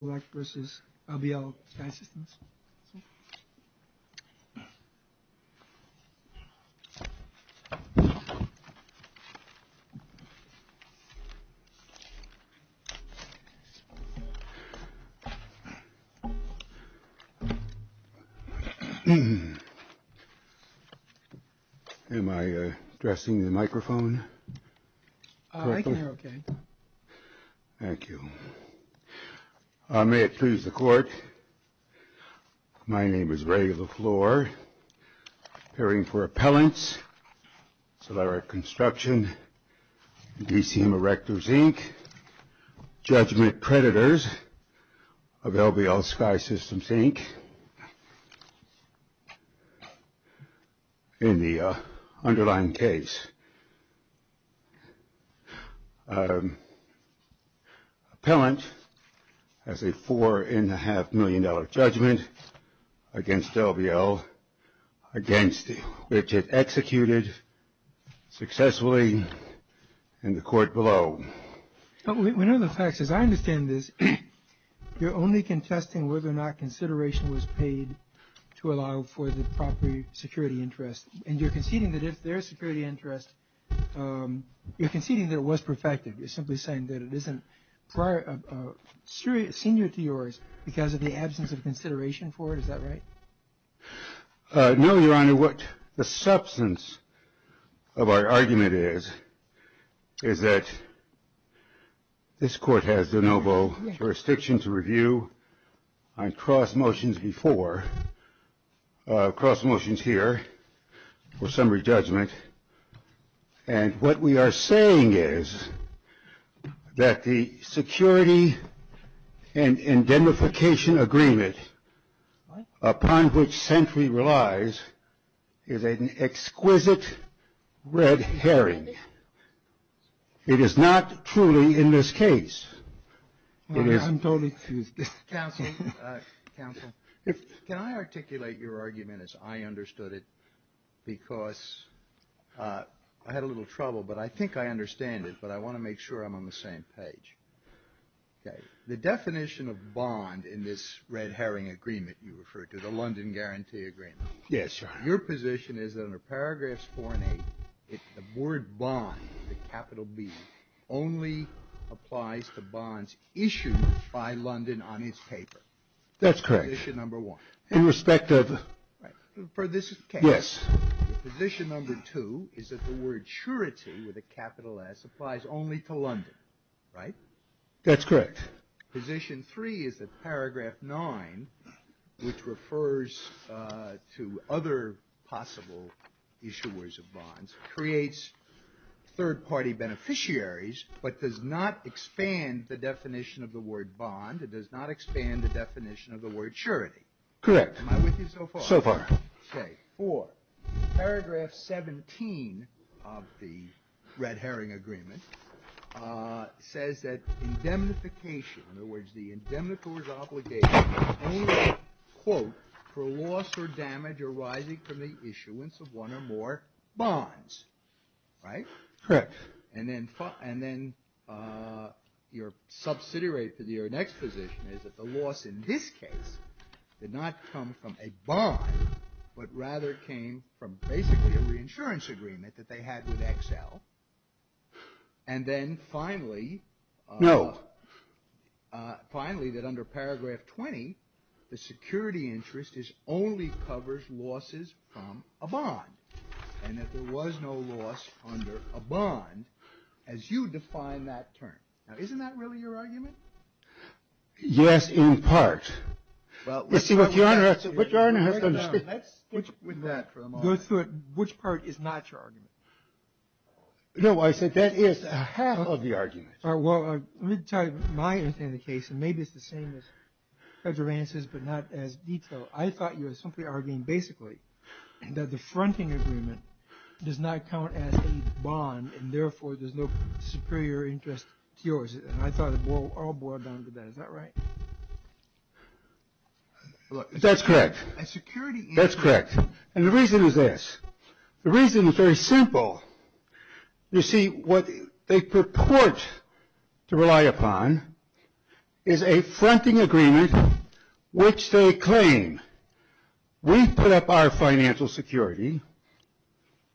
r. Thank you. Am I addressing the microphone. Okay. Thank you. May it please the court. My name is regular floor. Hearing for appellants. So that our construction. DCM Erectors Inc. Judgment predators. Available the old sky system sink. In the underlying case. Appellant. As a four and a half million dollar judgment. Against LVL. Against it. Executed. Successfully. In the court below. We know the facts as I understand this. You're only contesting whether or not consideration was paid. To allow for the property security interest. And you're conceding that if their security interest. You're conceding that it was perfected. You're simply saying that it isn't. Prior. Serious senior to yours. Because of the absence of consideration for it. Is that right? No, your honor. What the substance. Of our argument is. Is that. This court has the noble jurisdiction to review. On cross motions before. Cross motions here. For summary judgment. And what we are saying is. That the security. And indemnification agreement. Upon which century relies. Is an exquisite. Red herring. It is not truly in this case. Counsel. Counsel. Can I articulate your argument as I understood it. Because. I had a little trouble. But I think I understand it. But I want to make sure I'm on the same page. Okay. The definition of bond in this red herring agreement. You refer to the London guarantee agreement. Yes. Your position is that under paragraphs four and eight. The board bond. Capital B. Only. Applies to bonds issued. By London on his paper. That's correct. Number one. Irrespective. For this case. Position number two. Is that the word surety. With a capital S. Applies only to London. Right. That's correct. Position three. Is that paragraph nine. Which refers. To other possible. Issuers of bonds. Creates. Third party beneficiaries. But does not expand the definition of the word bond. It does not expand the definition of the word surety. Correct. So far. Okay. For. Paragraph 17. Of the. Red herring agreement. Says that indemnification. In other words. The indemnification. Quote. For loss or damage arising from the issuance of one or more. Bonds. Right. Correct. And then. And then. Your. Subsidy rate for the year. Next position. Is that the loss in this case. Did not come from a bond. But rather came from. Basically a reinsurance agreement. That they had with XL. And then finally. No. Finally. That under paragraph 20. The security interest is. Only covers losses. From a bond. And that there was no loss. Under a bond. As you define that term. Now isn't that really your argument. Yes. In part. Well. Let's see what. Your Honor. Which part is not your argument. No. I said that is. Half of the argument. All right. Well. Let me tell you. My understanding of the case. And maybe it's the same. References. But not as detailed. I thought you were simply arguing. Basically. That the fronting agreement. Does not count as a bond. And therefore. There's no. Superior interest. To yours. And I thought it. All boiled down to that. Is that right. That's correct. Security. That's correct. And the reason is this. The reason is very simple. You see. What. They purport. To rely upon. Is a fronting agreement. Which they claim. We put up our financial security.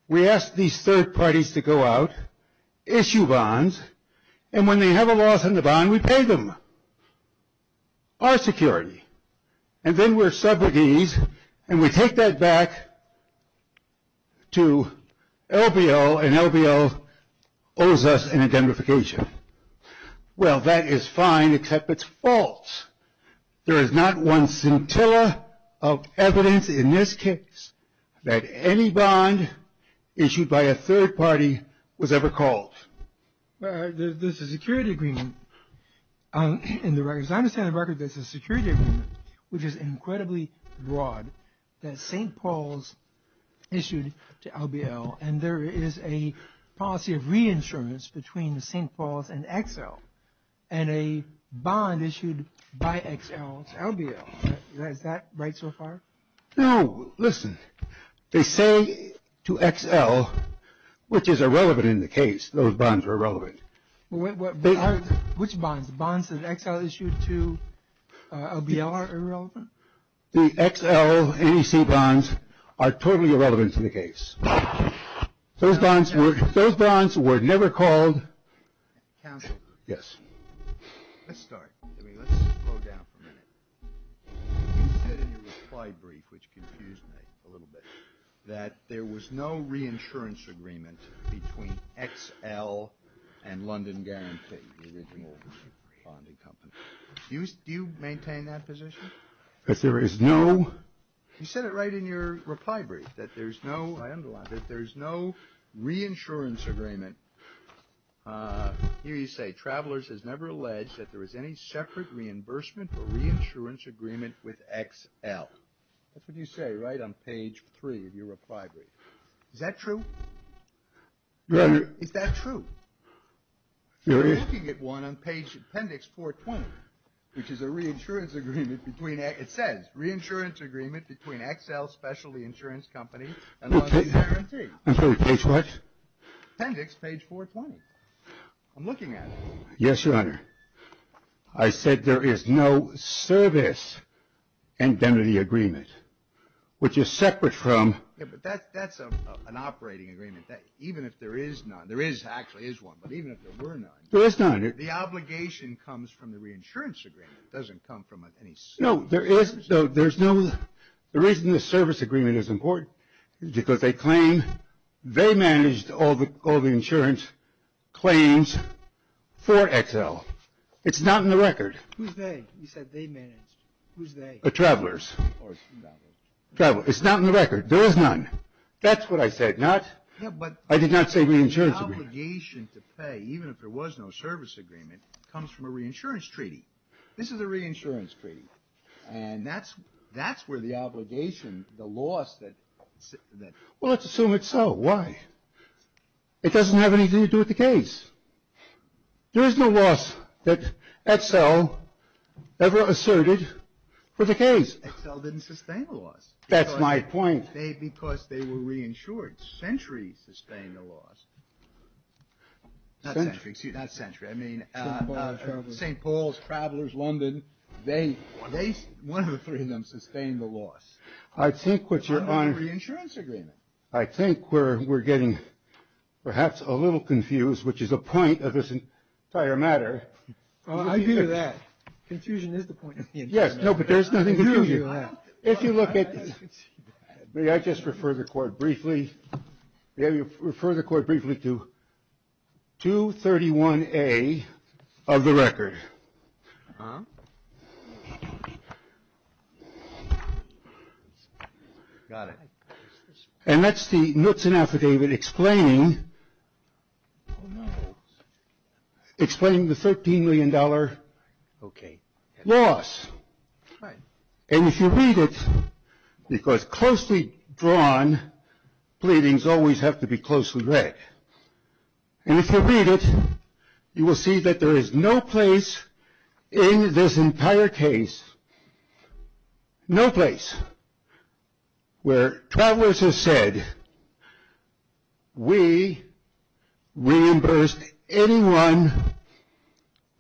We ask these third parties to go out. Issue bonds. And when they have a loss in the bond. We pay them. Our security. And then we're subrogies. And we take that back. To. LBL. And LBL. Owes us an indemnification. Well that is fine. Except it's false. There is not one scintilla. Of evidence. In this case. That any bond. Issued by a third party. Was ever called. There's a security agreement. In the records. I understand the record. There's a security agreement. Which is incredibly broad. That St. Paul's. Issued. To LBL. And there is a. Policy of reinsurance. Between the St. Paul's. And XL. And a. Bond issued. By XL. LBL. Is that. Right so far. No. Listen. They say. To XL. Which is irrelevant. In the case. Those bonds are irrelevant. What. Which bonds. Bonds that XL issued. To. LBL are irrelevant. The XL. Any C. Bonds. Are totally irrelevant. To the case. Those bonds. Those bonds. Were never called. Yes. Let's start. Let's slow down for a minute. You said in your reply brief. Which confused me. A little bit. That there was no. Reinsurance agreement. Do you. Do you. Maintain that position. Because there is no. Reinsurance agreement. Between XL. And London guarantee. The original. Bonding company. Do you. You said it right in your. Reply brief. That there's no. I underlined it. There's no. Reinsurance agreement. Here you say. Travelers. Has never alleged. That there was any. Separate reimbursement. For reinsurance agreement. With XL. That's what you say. Right on page. Three. Of your reply brief. Is that true. Is that true. You're looking at one. On page. Appendix. 420. Which is a. Reinsurance agreement. Between. It says. Reinsurance agreement. Between XL. Specialty insurance company. And. I'm sorry. Page what. Appendix. Page. 420. I'm looking at. Yes. Your honor. I said there is no. Service. Indemnity agreement. Which is separate from. Yeah. But that's. That's a. An operating agreement. That even if there is none. There is actually is one. But even if there were none. There is none. The obligation. Comes from the reinsurance agreement. Doesn't come from. Any. No there is. No there's no. There is no. The reason the service agreement is important. Is because they claim. They managed. All the. All the insurance. Claims. For XL. It's not in the record. Who's they? You said they managed. Who's they? The travelers. Or travelers. Travelers. It's not in the record. There is none. That's what I said. Not. Yeah but. I did not say reinsurance agreement. The obligation to pay. Even if there was no service agreement. Comes from a reinsurance treaty. This is a reinsurance treaty. And that's. That's where the obligation. Comes from. The obligation. The loss that. Well let's assume it's so. Why? It doesn't have anything to do with the case. There is no loss. That XL. Ever asserted. For the case. XL didn't sustain the loss. That's my point. Because they were reinsured. Century sustained the loss. Century. Not century. I mean. St. Paul's. Travelers. London. They. They. One of the three of them. Sustained the loss. I think what you're on. Reinsurance agreement. I think we're. We're getting. Perhaps a little confused. Which is a point of this. Entire matter. I do that. Confusion is the point. Yes. No. But there's nothing. If you look at. Maybe I just refer the court. Briefly. Maybe refer the court. Briefly to. Two. Thirty one. A. Of the record. And. That's. The. Affidavit. Explaining. Explaining. Thirteen. Million. Dollar. Okay. Loss. Right. And. If you. Read it. Because. Closely. Drawn. Pleadings. Always. Have to be. Closely. Read. And. If you. Read it. You. Will see. That there is no place. In. This. Entire case. No place. Where. Travelers have said. We. Reimbursed. Anyone.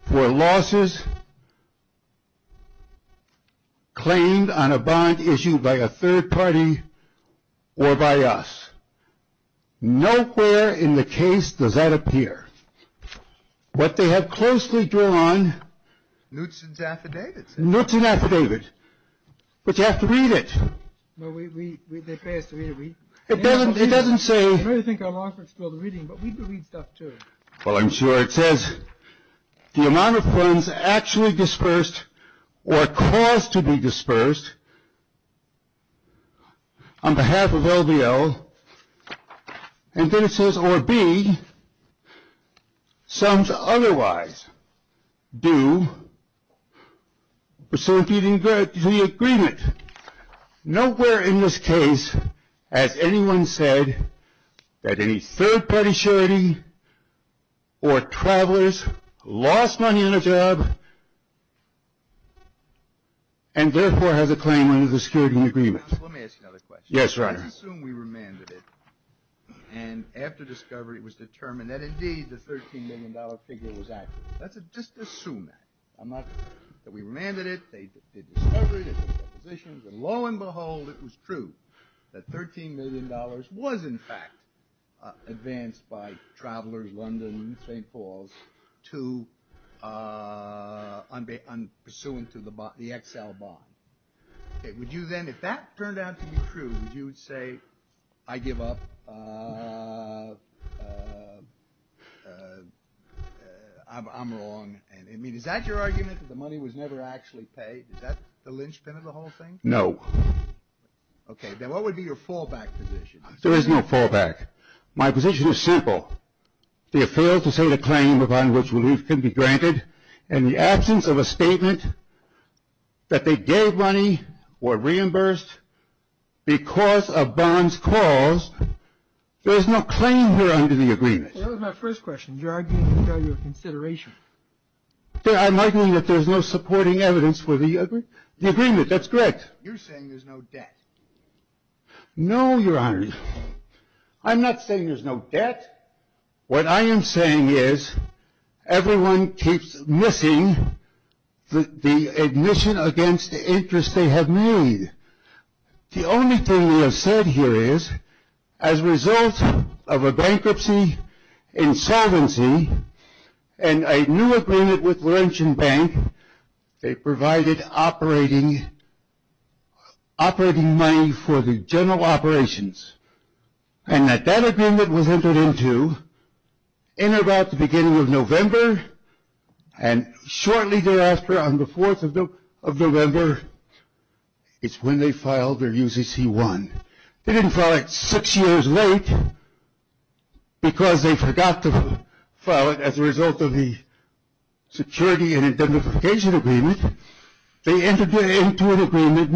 For losses. Claimed. On a bond. Does that appear. What they have. Said. Is that. We. Reimbursed. Anyone. For losses. Claimed. On a bond. Issue. If you. Closely. Drawn. Nuts and affidavits. Nuts and affidavits. But you have to read it. We. We. We. They pay us to read it. We. It doesn't. It doesn't say. I really think I'm offering school to reading. But we do read stuff too. Well, I'm sure it says. The amount of funds actually dispersed. Or caused to be dispersed. On behalf of LBL. And then it says. Or be. Some. Otherwise. Due. To the agreement. Nowhere in this case. Has anyone said. That any third party surety. Or travelers. Lost money on a job. And therefore. Has a claim. Under the security agreement. Let me ask you another question. Yes. Right. Assume we remanded it. Was actually. The $13 million figure. Was actually. The $13 million figure. Was actually. The $13 million figure. Was actually. The $13 million figure. Was actually. Let's just assume that. I'm not. That we remanded it. They did discovery. They did depositions. And lo and behold. It was true. That $13 million. Was in fact. Advanced by. Travelers. London. St. Paul's. To. Pursuant to. Would you say. I give up. I'm. I'm. I'm. I'm. I'm. I'm. I'm. I'm. I'm. I'm. I'm. I'm. I'm. I mean is that your argument. But I'm arguing that there is no supporting evidence for the agreement, that's correct. You're saying there's no debt? No, your honor, I'm not saying there's no debt. What I am saying is everyone keeps missing the admission against the interest they have made. The only thing we have said here is as a result of a bankruptcy, insolvency, and a new agreement with Laurentian Bank, they provided operating money for the general operations. And that that agreement was entered into in about the beginning of November, and shortly thereafter on the 4th of November is when they filed their UCC-1. They didn't file it six years late because they forgot to file it as a result of the security and identification agreement. They entered into an agreement,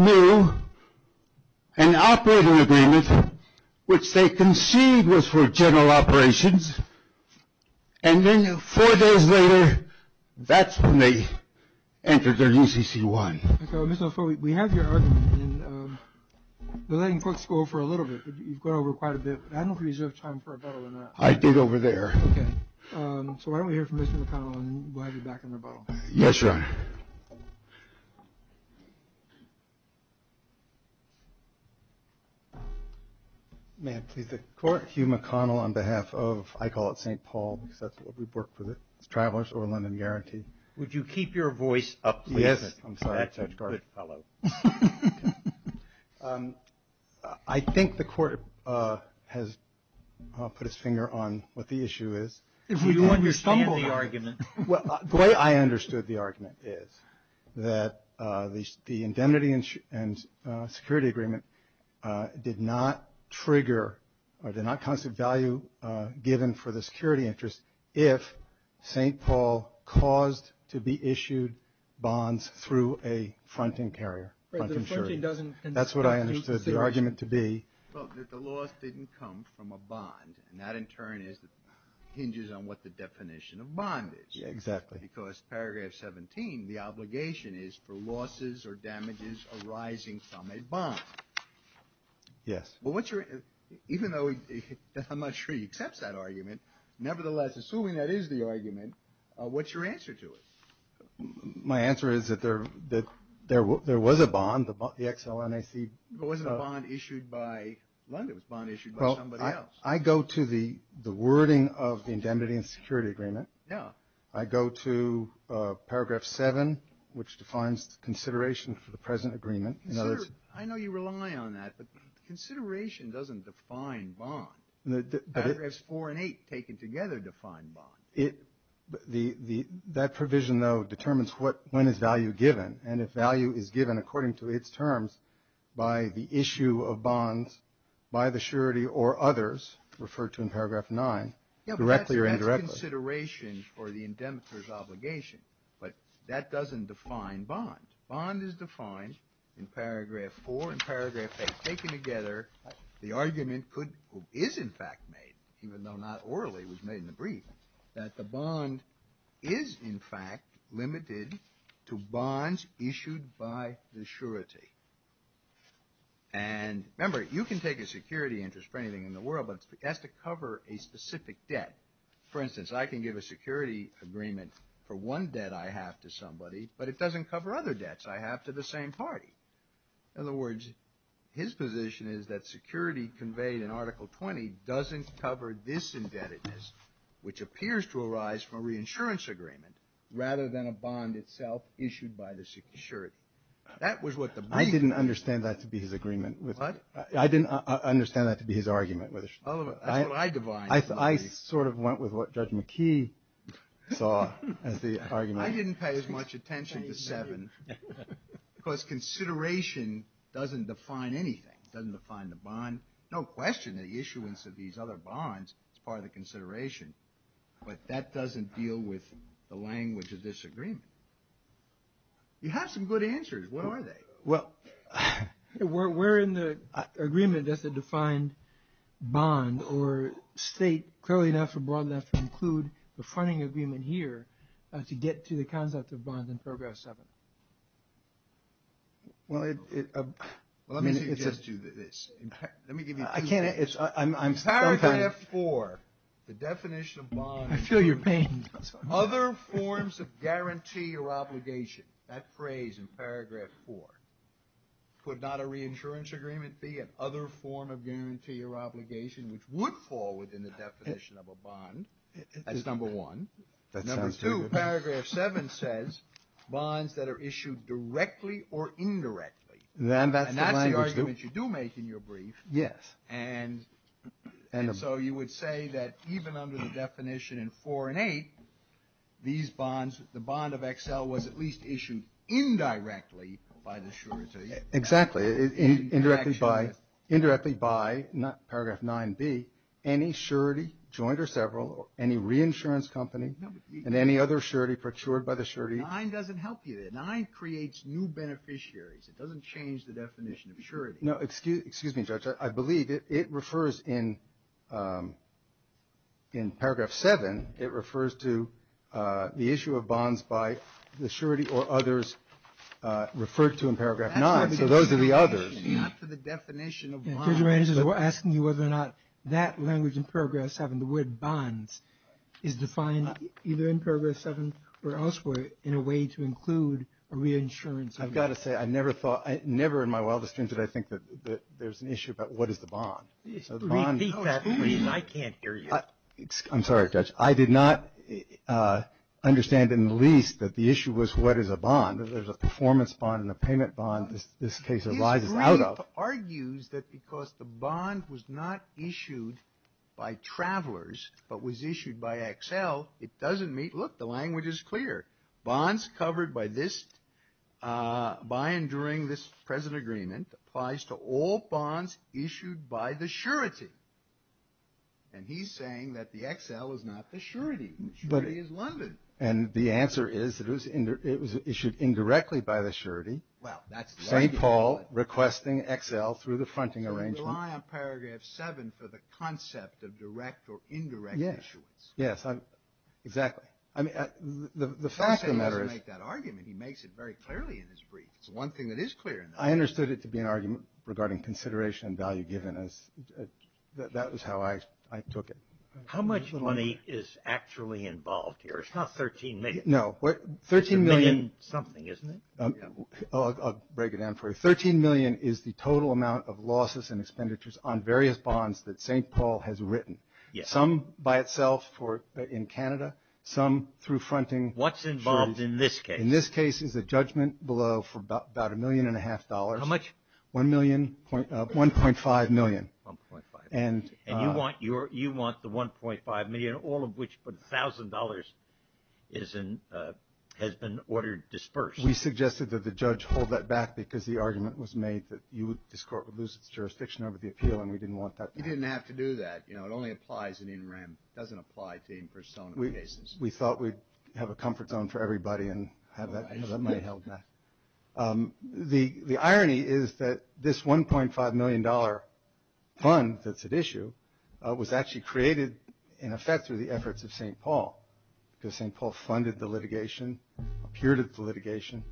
an operating agreement, which they conceived was for general operations. And then four days later, that's when they entered their UCC-1. Okay, Mr. LaFleur, we have your argument, and we're letting folks go for a little bit. You've gone over quite a bit, but I don't think we deserve time for a rebuttal on that. I did over there. Okay. So why don't we hear from Mr. McConnell, and we'll have you back in rebuttal. Yes, your honor. May I please take the court? Mr. Hugh McConnell on behalf of, I call it St. Paul, because that's what we work for, the Travelers Over London Guarantee. Would you keep your voice up, please? Yes. I'm sorry. That's a good fellow. I think the court has put its finger on what the issue is. Do you understand the argument? Well, the way I understood the argument is that the indemnity and security agreement did not trigger or did not constitute value given for the security interest if St. Paul caused to be issued bonds through a fronting carrier. That's what I understood the argument to be. Well, that the loss didn't come from a bond, and that in turn hinges on what the definition of bondage. Exactly. Because paragraph 17, the obligation is for losses or damages arising from a bond. Yes. Even though I'm not sure he accepts that argument, nevertheless, assuming that is the argument, what's your answer to it? My answer is that there was a bond, the XLNIC. It wasn't a bond issued by London. It was a bond issued by somebody else. Well, I go to the wording of the indemnity and security agreement. I go to paragraph 7, which defines the consideration for the present agreement. I know you rely on that, but consideration doesn't define bond. Paragraphs 4 and 8 taken together define bond. That provision, though, determines when is value given. And if value is given according to its terms by the issue of bonds by the surety or others, referred to in paragraph 9, directly or indirectly. Yes, but that's consideration for the indemnity's obligation. But that doesn't define bond. Bond is defined in paragraph 4 and paragraph 8 taken together. The argument is, in fact, made, even though not orally, was made in the brief, that the bond is, in fact, limited to bonds issued by the surety. And remember, you can take a security interest for anything in the world, but it has to cover a specific debt. For instance, I can give a security agreement for one debt I have to somebody, but it doesn't cover other debts I have to the same party. In other words, his position is that security conveyed in Article 20 doesn't cover this indebtedness, which appears to arise from a reinsurance agreement, rather than a bond itself issued by the surety. That was what the brief. I didn't understand that to be his agreement. What? I didn't understand that to be his argument. That's what I defined. I sort of went with what Judge McKee saw as the argument. I didn't pay as much attention to 7, because consideration doesn't define anything. It doesn't define the bond. No question the issuance of these other bonds is part of the consideration, but that doesn't deal with the language of disagreement. You have some good answers. What are they? We're in the agreement that's a defined bond or state clearly enough or broadly enough to include the funding agreement here to get to the concept of bonds in Paragraph 7. Well, let me suggest to you this. I can't. Paragraph 4, the definition of bonds. I feel your pain. Other forms of guarantee or obligation. That phrase in Paragraph 4 could not a reinsurance agreement be an other form of guarantee or obligation, which would fall within the definition of a bond. That's number one. Number two, Paragraph 7 says bonds that are issued directly or indirectly. And that's the argument you do make in your brief. Yes. And so you would say that even under the definition in 4 and 8, these bonds, the bond of XL was at least issued indirectly by the surety. Exactly. Indirectly by Paragraph 9B, any surety, joint or several, any reinsurance company, and any other surety procured by the surety. 9 doesn't help you there. 9 creates new beneficiaries. It doesn't change the definition of surety. No. Excuse me, Judge. I believe it refers in Paragraph 7, it refers to the issue of bonds by the surety or others referred to in Paragraph 9. So those are the others. Not to the definition of bonds. We're asking you whether or not that language in Paragraph 7, the word bonds, is defined either in Paragraph 7 or elsewhere in a way to include a reinsurance agreement. Never in my wildest dreams did I think that there's an issue about what is the bond. Repeat that, please. I can't hear you. I'm sorry, Judge. I did not understand in the least that the issue was what is a bond. There's a performance bond and a payment bond. This case arises out of. This brief argues that because the bond was not issued by travelers but was issued by XL, it doesn't meet. Look, the language is clear. Bonds covered by and during this present agreement applies to all bonds issued by the surety. And he's saying that the XL is not the surety. The surety is London. And the answer is that it was issued indirectly by the surety. Well, that's. St. Paul requesting XL through the fronting arrangement. So you rely on Paragraph 7 for the concept of direct or indirect issuance. Yes, exactly. I mean, the fact of the matter is. He doesn't make that argument. He makes it very clearly in his brief. It's one thing that is clear. I understood it to be an argument regarding consideration and value given. That was how I took it. How much money is actually involved here? It's not 13 million. No. 13 million. It's a million something, isn't it? I'll break it down for you. 13 million is the total amount of losses and expenditures on various bonds that St. Paul has written. Some by itself in Canada. Some through fronting. What's involved in this case? In this case is a judgment below for about a million and a half dollars. How much? 1.5 million. And you want the 1.5 million, all of which, but $1,000 has been ordered dispersed. We suggested that the judge hold that back because the argument was made that this court would lose its jurisdiction over the appeal. And we didn't want that. You didn't have to do that. It only applies in in rem. It doesn't apply to in persona cases. We thought we'd have a comfort zone for everybody and have that money held back. The irony is that this $1.5 million fund that's at issue was actually created in effect through the efforts of St. Paul because St. Paul funded the litigation, appeared at the litigation.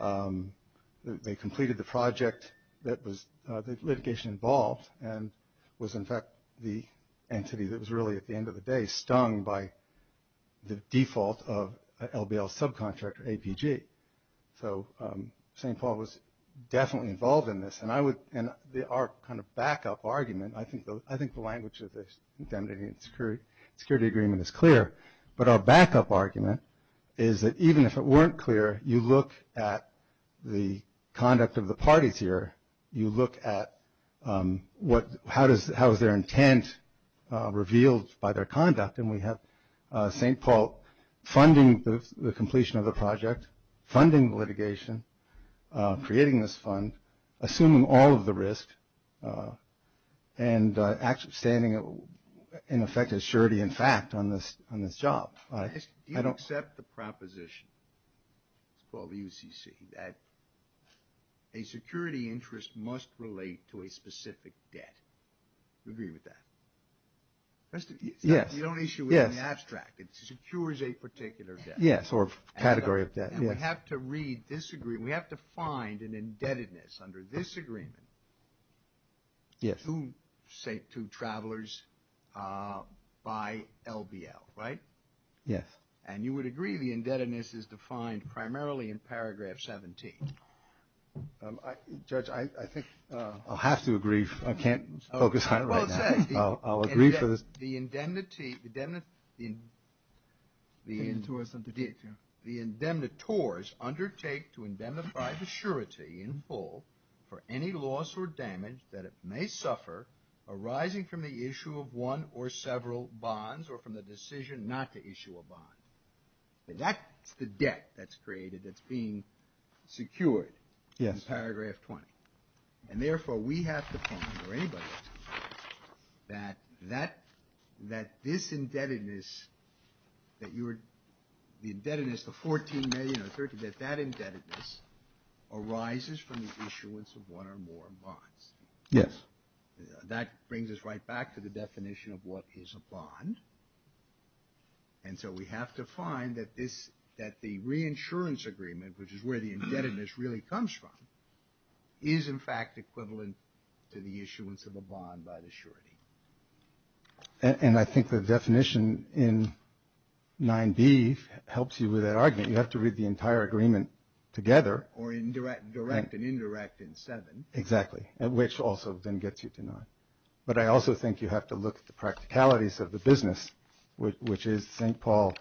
They completed the project that litigation involved and was in fact the entity that was really, at the end of the day, stung by the default of LBL's subcontractor, APG. So St. Paul was definitely involved in this. And our kind of backup argument, I think the language of the indemnity and security agreement is clear, but our backup argument is that even if it weren't clear, you look at the conduct of the parties here. You look at how is their intent revealed by their conduct. And we have St. Paul funding the completion of the project, funding litigation, creating this fund, assuming all of the risk, and actually standing in effect as surety in fact on this job. Do you accept the proposition, it's called the UCC, that a security interest must relate to a specific debt? Do you agree with that? Yes. You don't issue it in abstract. It secures a particular debt. Yes, or category of debt. And we have to find an indebtedness under this agreement to travelers by LBL, right? Yes. And you would agree the indebtedness is defined primarily in paragraph 17. Judge, I think... I'll have to agree. I can't focus on it right now. The indemnitores undertake to indemnify the surety in full for any loss or damage that it may suffer arising from the issue of one or several bonds, or from the decision not to issue a bond. That's the debt that's created that's being secured in paragraph 20. And therefore, we have to find, or anybody has to find, that this indebtedness, that the indebtedness, the $14 million or $13 million, that that indebtedness arises from the issuance of one or more bonds. Yes. That brings us right back to the definition of what is a bond. And so we have to find that the reinsurance agreement, which is where the indebtedness really comes from, is in fact equivalent to the issuance of a bond by the surety. And I think the definition in 9b helps you with that argument. You have to read the entire agreement together. Or in direct and indirect in 7. Exactly. Which also then gets you to 9. But I also think you have to look at the practicalities of the business, which is St. Paul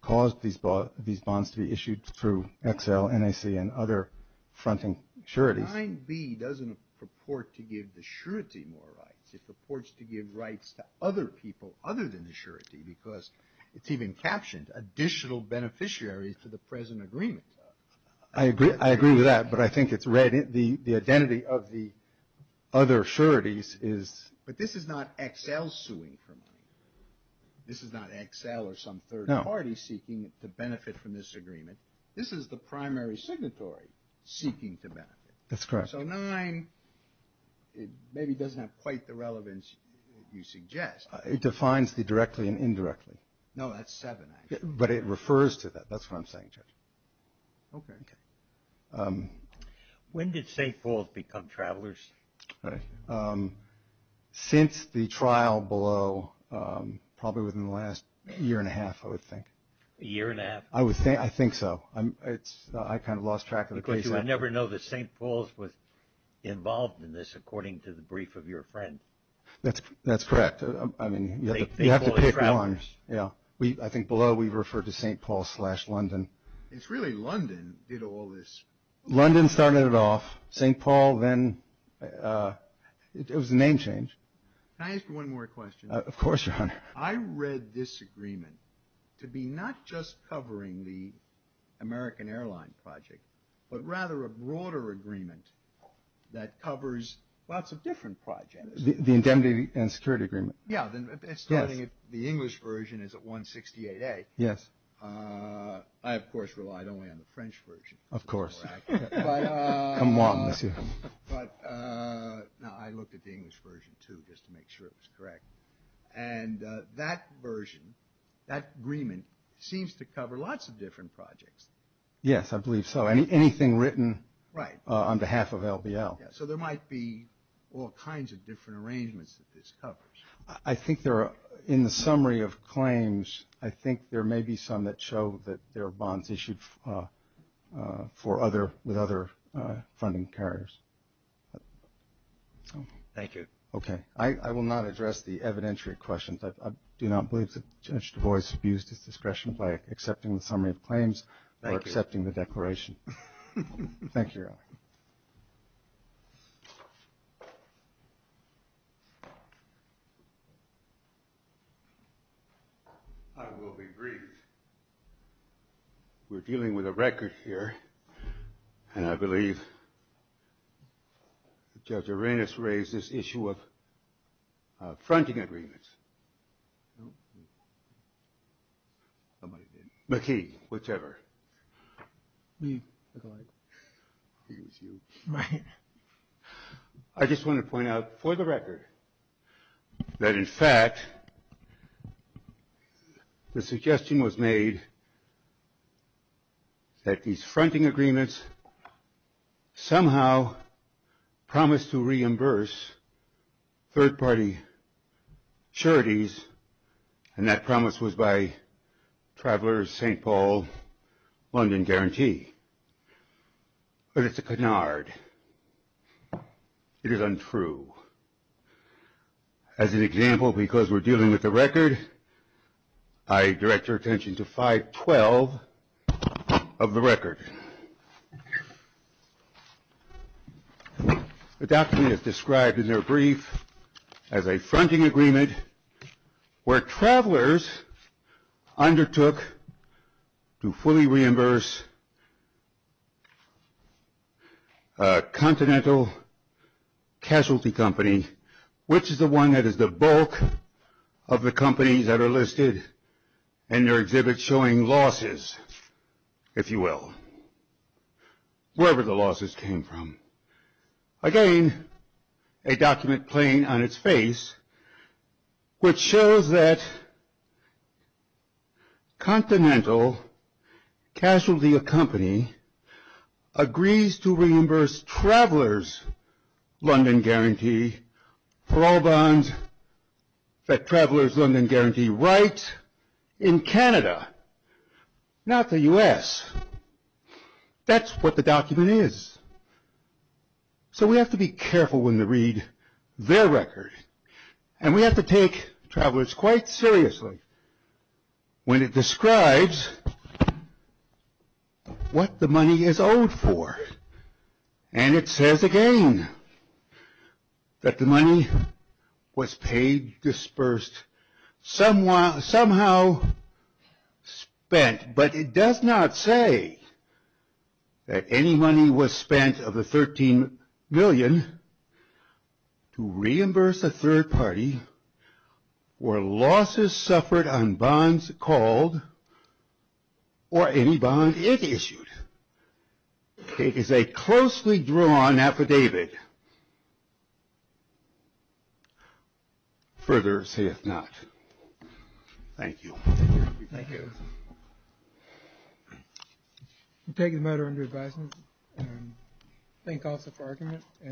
caused these bonds to be issued through XL, NAC, and other fronting sureties. 9b doesn't purport to give the surety more rights. It purports to give rights to other people other than the surety, because it's even captioned additional beneficiaries to the present agreement. I agree with that. The identity of the other sureties is. But this is not XL suing for money. This is not XL or some third party seeking to benefit from this agreement. This is the primary signatory seeking to benefit. That's correct. So 9 maybe doesn't have quite the relevance you suggest. It defines the directly and indirectly. No, that's 7 actually. But it refers to that. That's what I'm saying, Judge. Okay. When did St. Paul's become travelers? Since the trial below, probably within the last year and a half, I would think. A year and a half? I think so. I kind of lost track of the case. Because you would never know that St. Paul's was involved in this, according to the brief of your friend. That's correct. I mean, you have to pick one. I think below we refer to St. Paul's slash London. It's really London did all this. London started it off, St. Paul, then it was a name change. Can I ask you one more question? Of course, Your Honor. I read this agreement to be not just covering the American airline project, but rather a broader agreement that covers lots of different projects. The indemnity and security agreement. Yes. The English version is at 168A. Yes. I, of course, relied only on the French version. Of course. Come on, Monsieur. But I looked at the English version, too, just to make sure it was correct. And that version, that agreement, seems to cover lots of different projects. Yes, I believe so. Anything written on behalf of LBL. So there might be all kinds of different arrangements that this covers. I think there are, in the summary of claims, I think there may be some that show that there are bonds issued for other, with other funding carriers. Thank you. Okay. I will not address the evidentiary questions. I do not believe that Judge Du Bois abused his discretion by accepting the summary of claims or accepting the declaration. Thank you, Your Honor. I will be brief. We're dealing with a record here, and I believe Judge Arenas raised this issue of fronting agreements. No. Somebody did. McKee. Whichever. Me. I think it was you. Right. I just want to point out for the record that, in fact, the suggestion was made that these fronting agreements somehow promised to reimburse third-party charities, and that promise was by Travelers St. Paul London Guarantee. But it's a canard. It is untrue. As an example, because we're dealing with a record, I direct your attention to 512 of the record. The document is described in their brief as a fronting agreement where travelers undertook to fully reimburse a continental casualty company, which is the one that is the bulk of the companies that are listed in their wherever the losses came from. Again, a document plain on its face, which shows that continental casualty company agrees to reimburse Travelers London Guarantee for all bonds that Travelers London Guarantee write in That's what the document is. So we have to be careful when we read their record. And we have to take Travelers quite seriously when it describes what the money is owed for. And it says again that the money was paid, dispersed, somehow spent. But it does not say that any money was spent of the $13 million to reimburse a third party where losses suffered on bonds called or any bond it issued. It is a closely drawn affidavit. Further sayeth not. Thank you. Thank you. Thank you. We take the matter under advisement. Thank you also for your argument.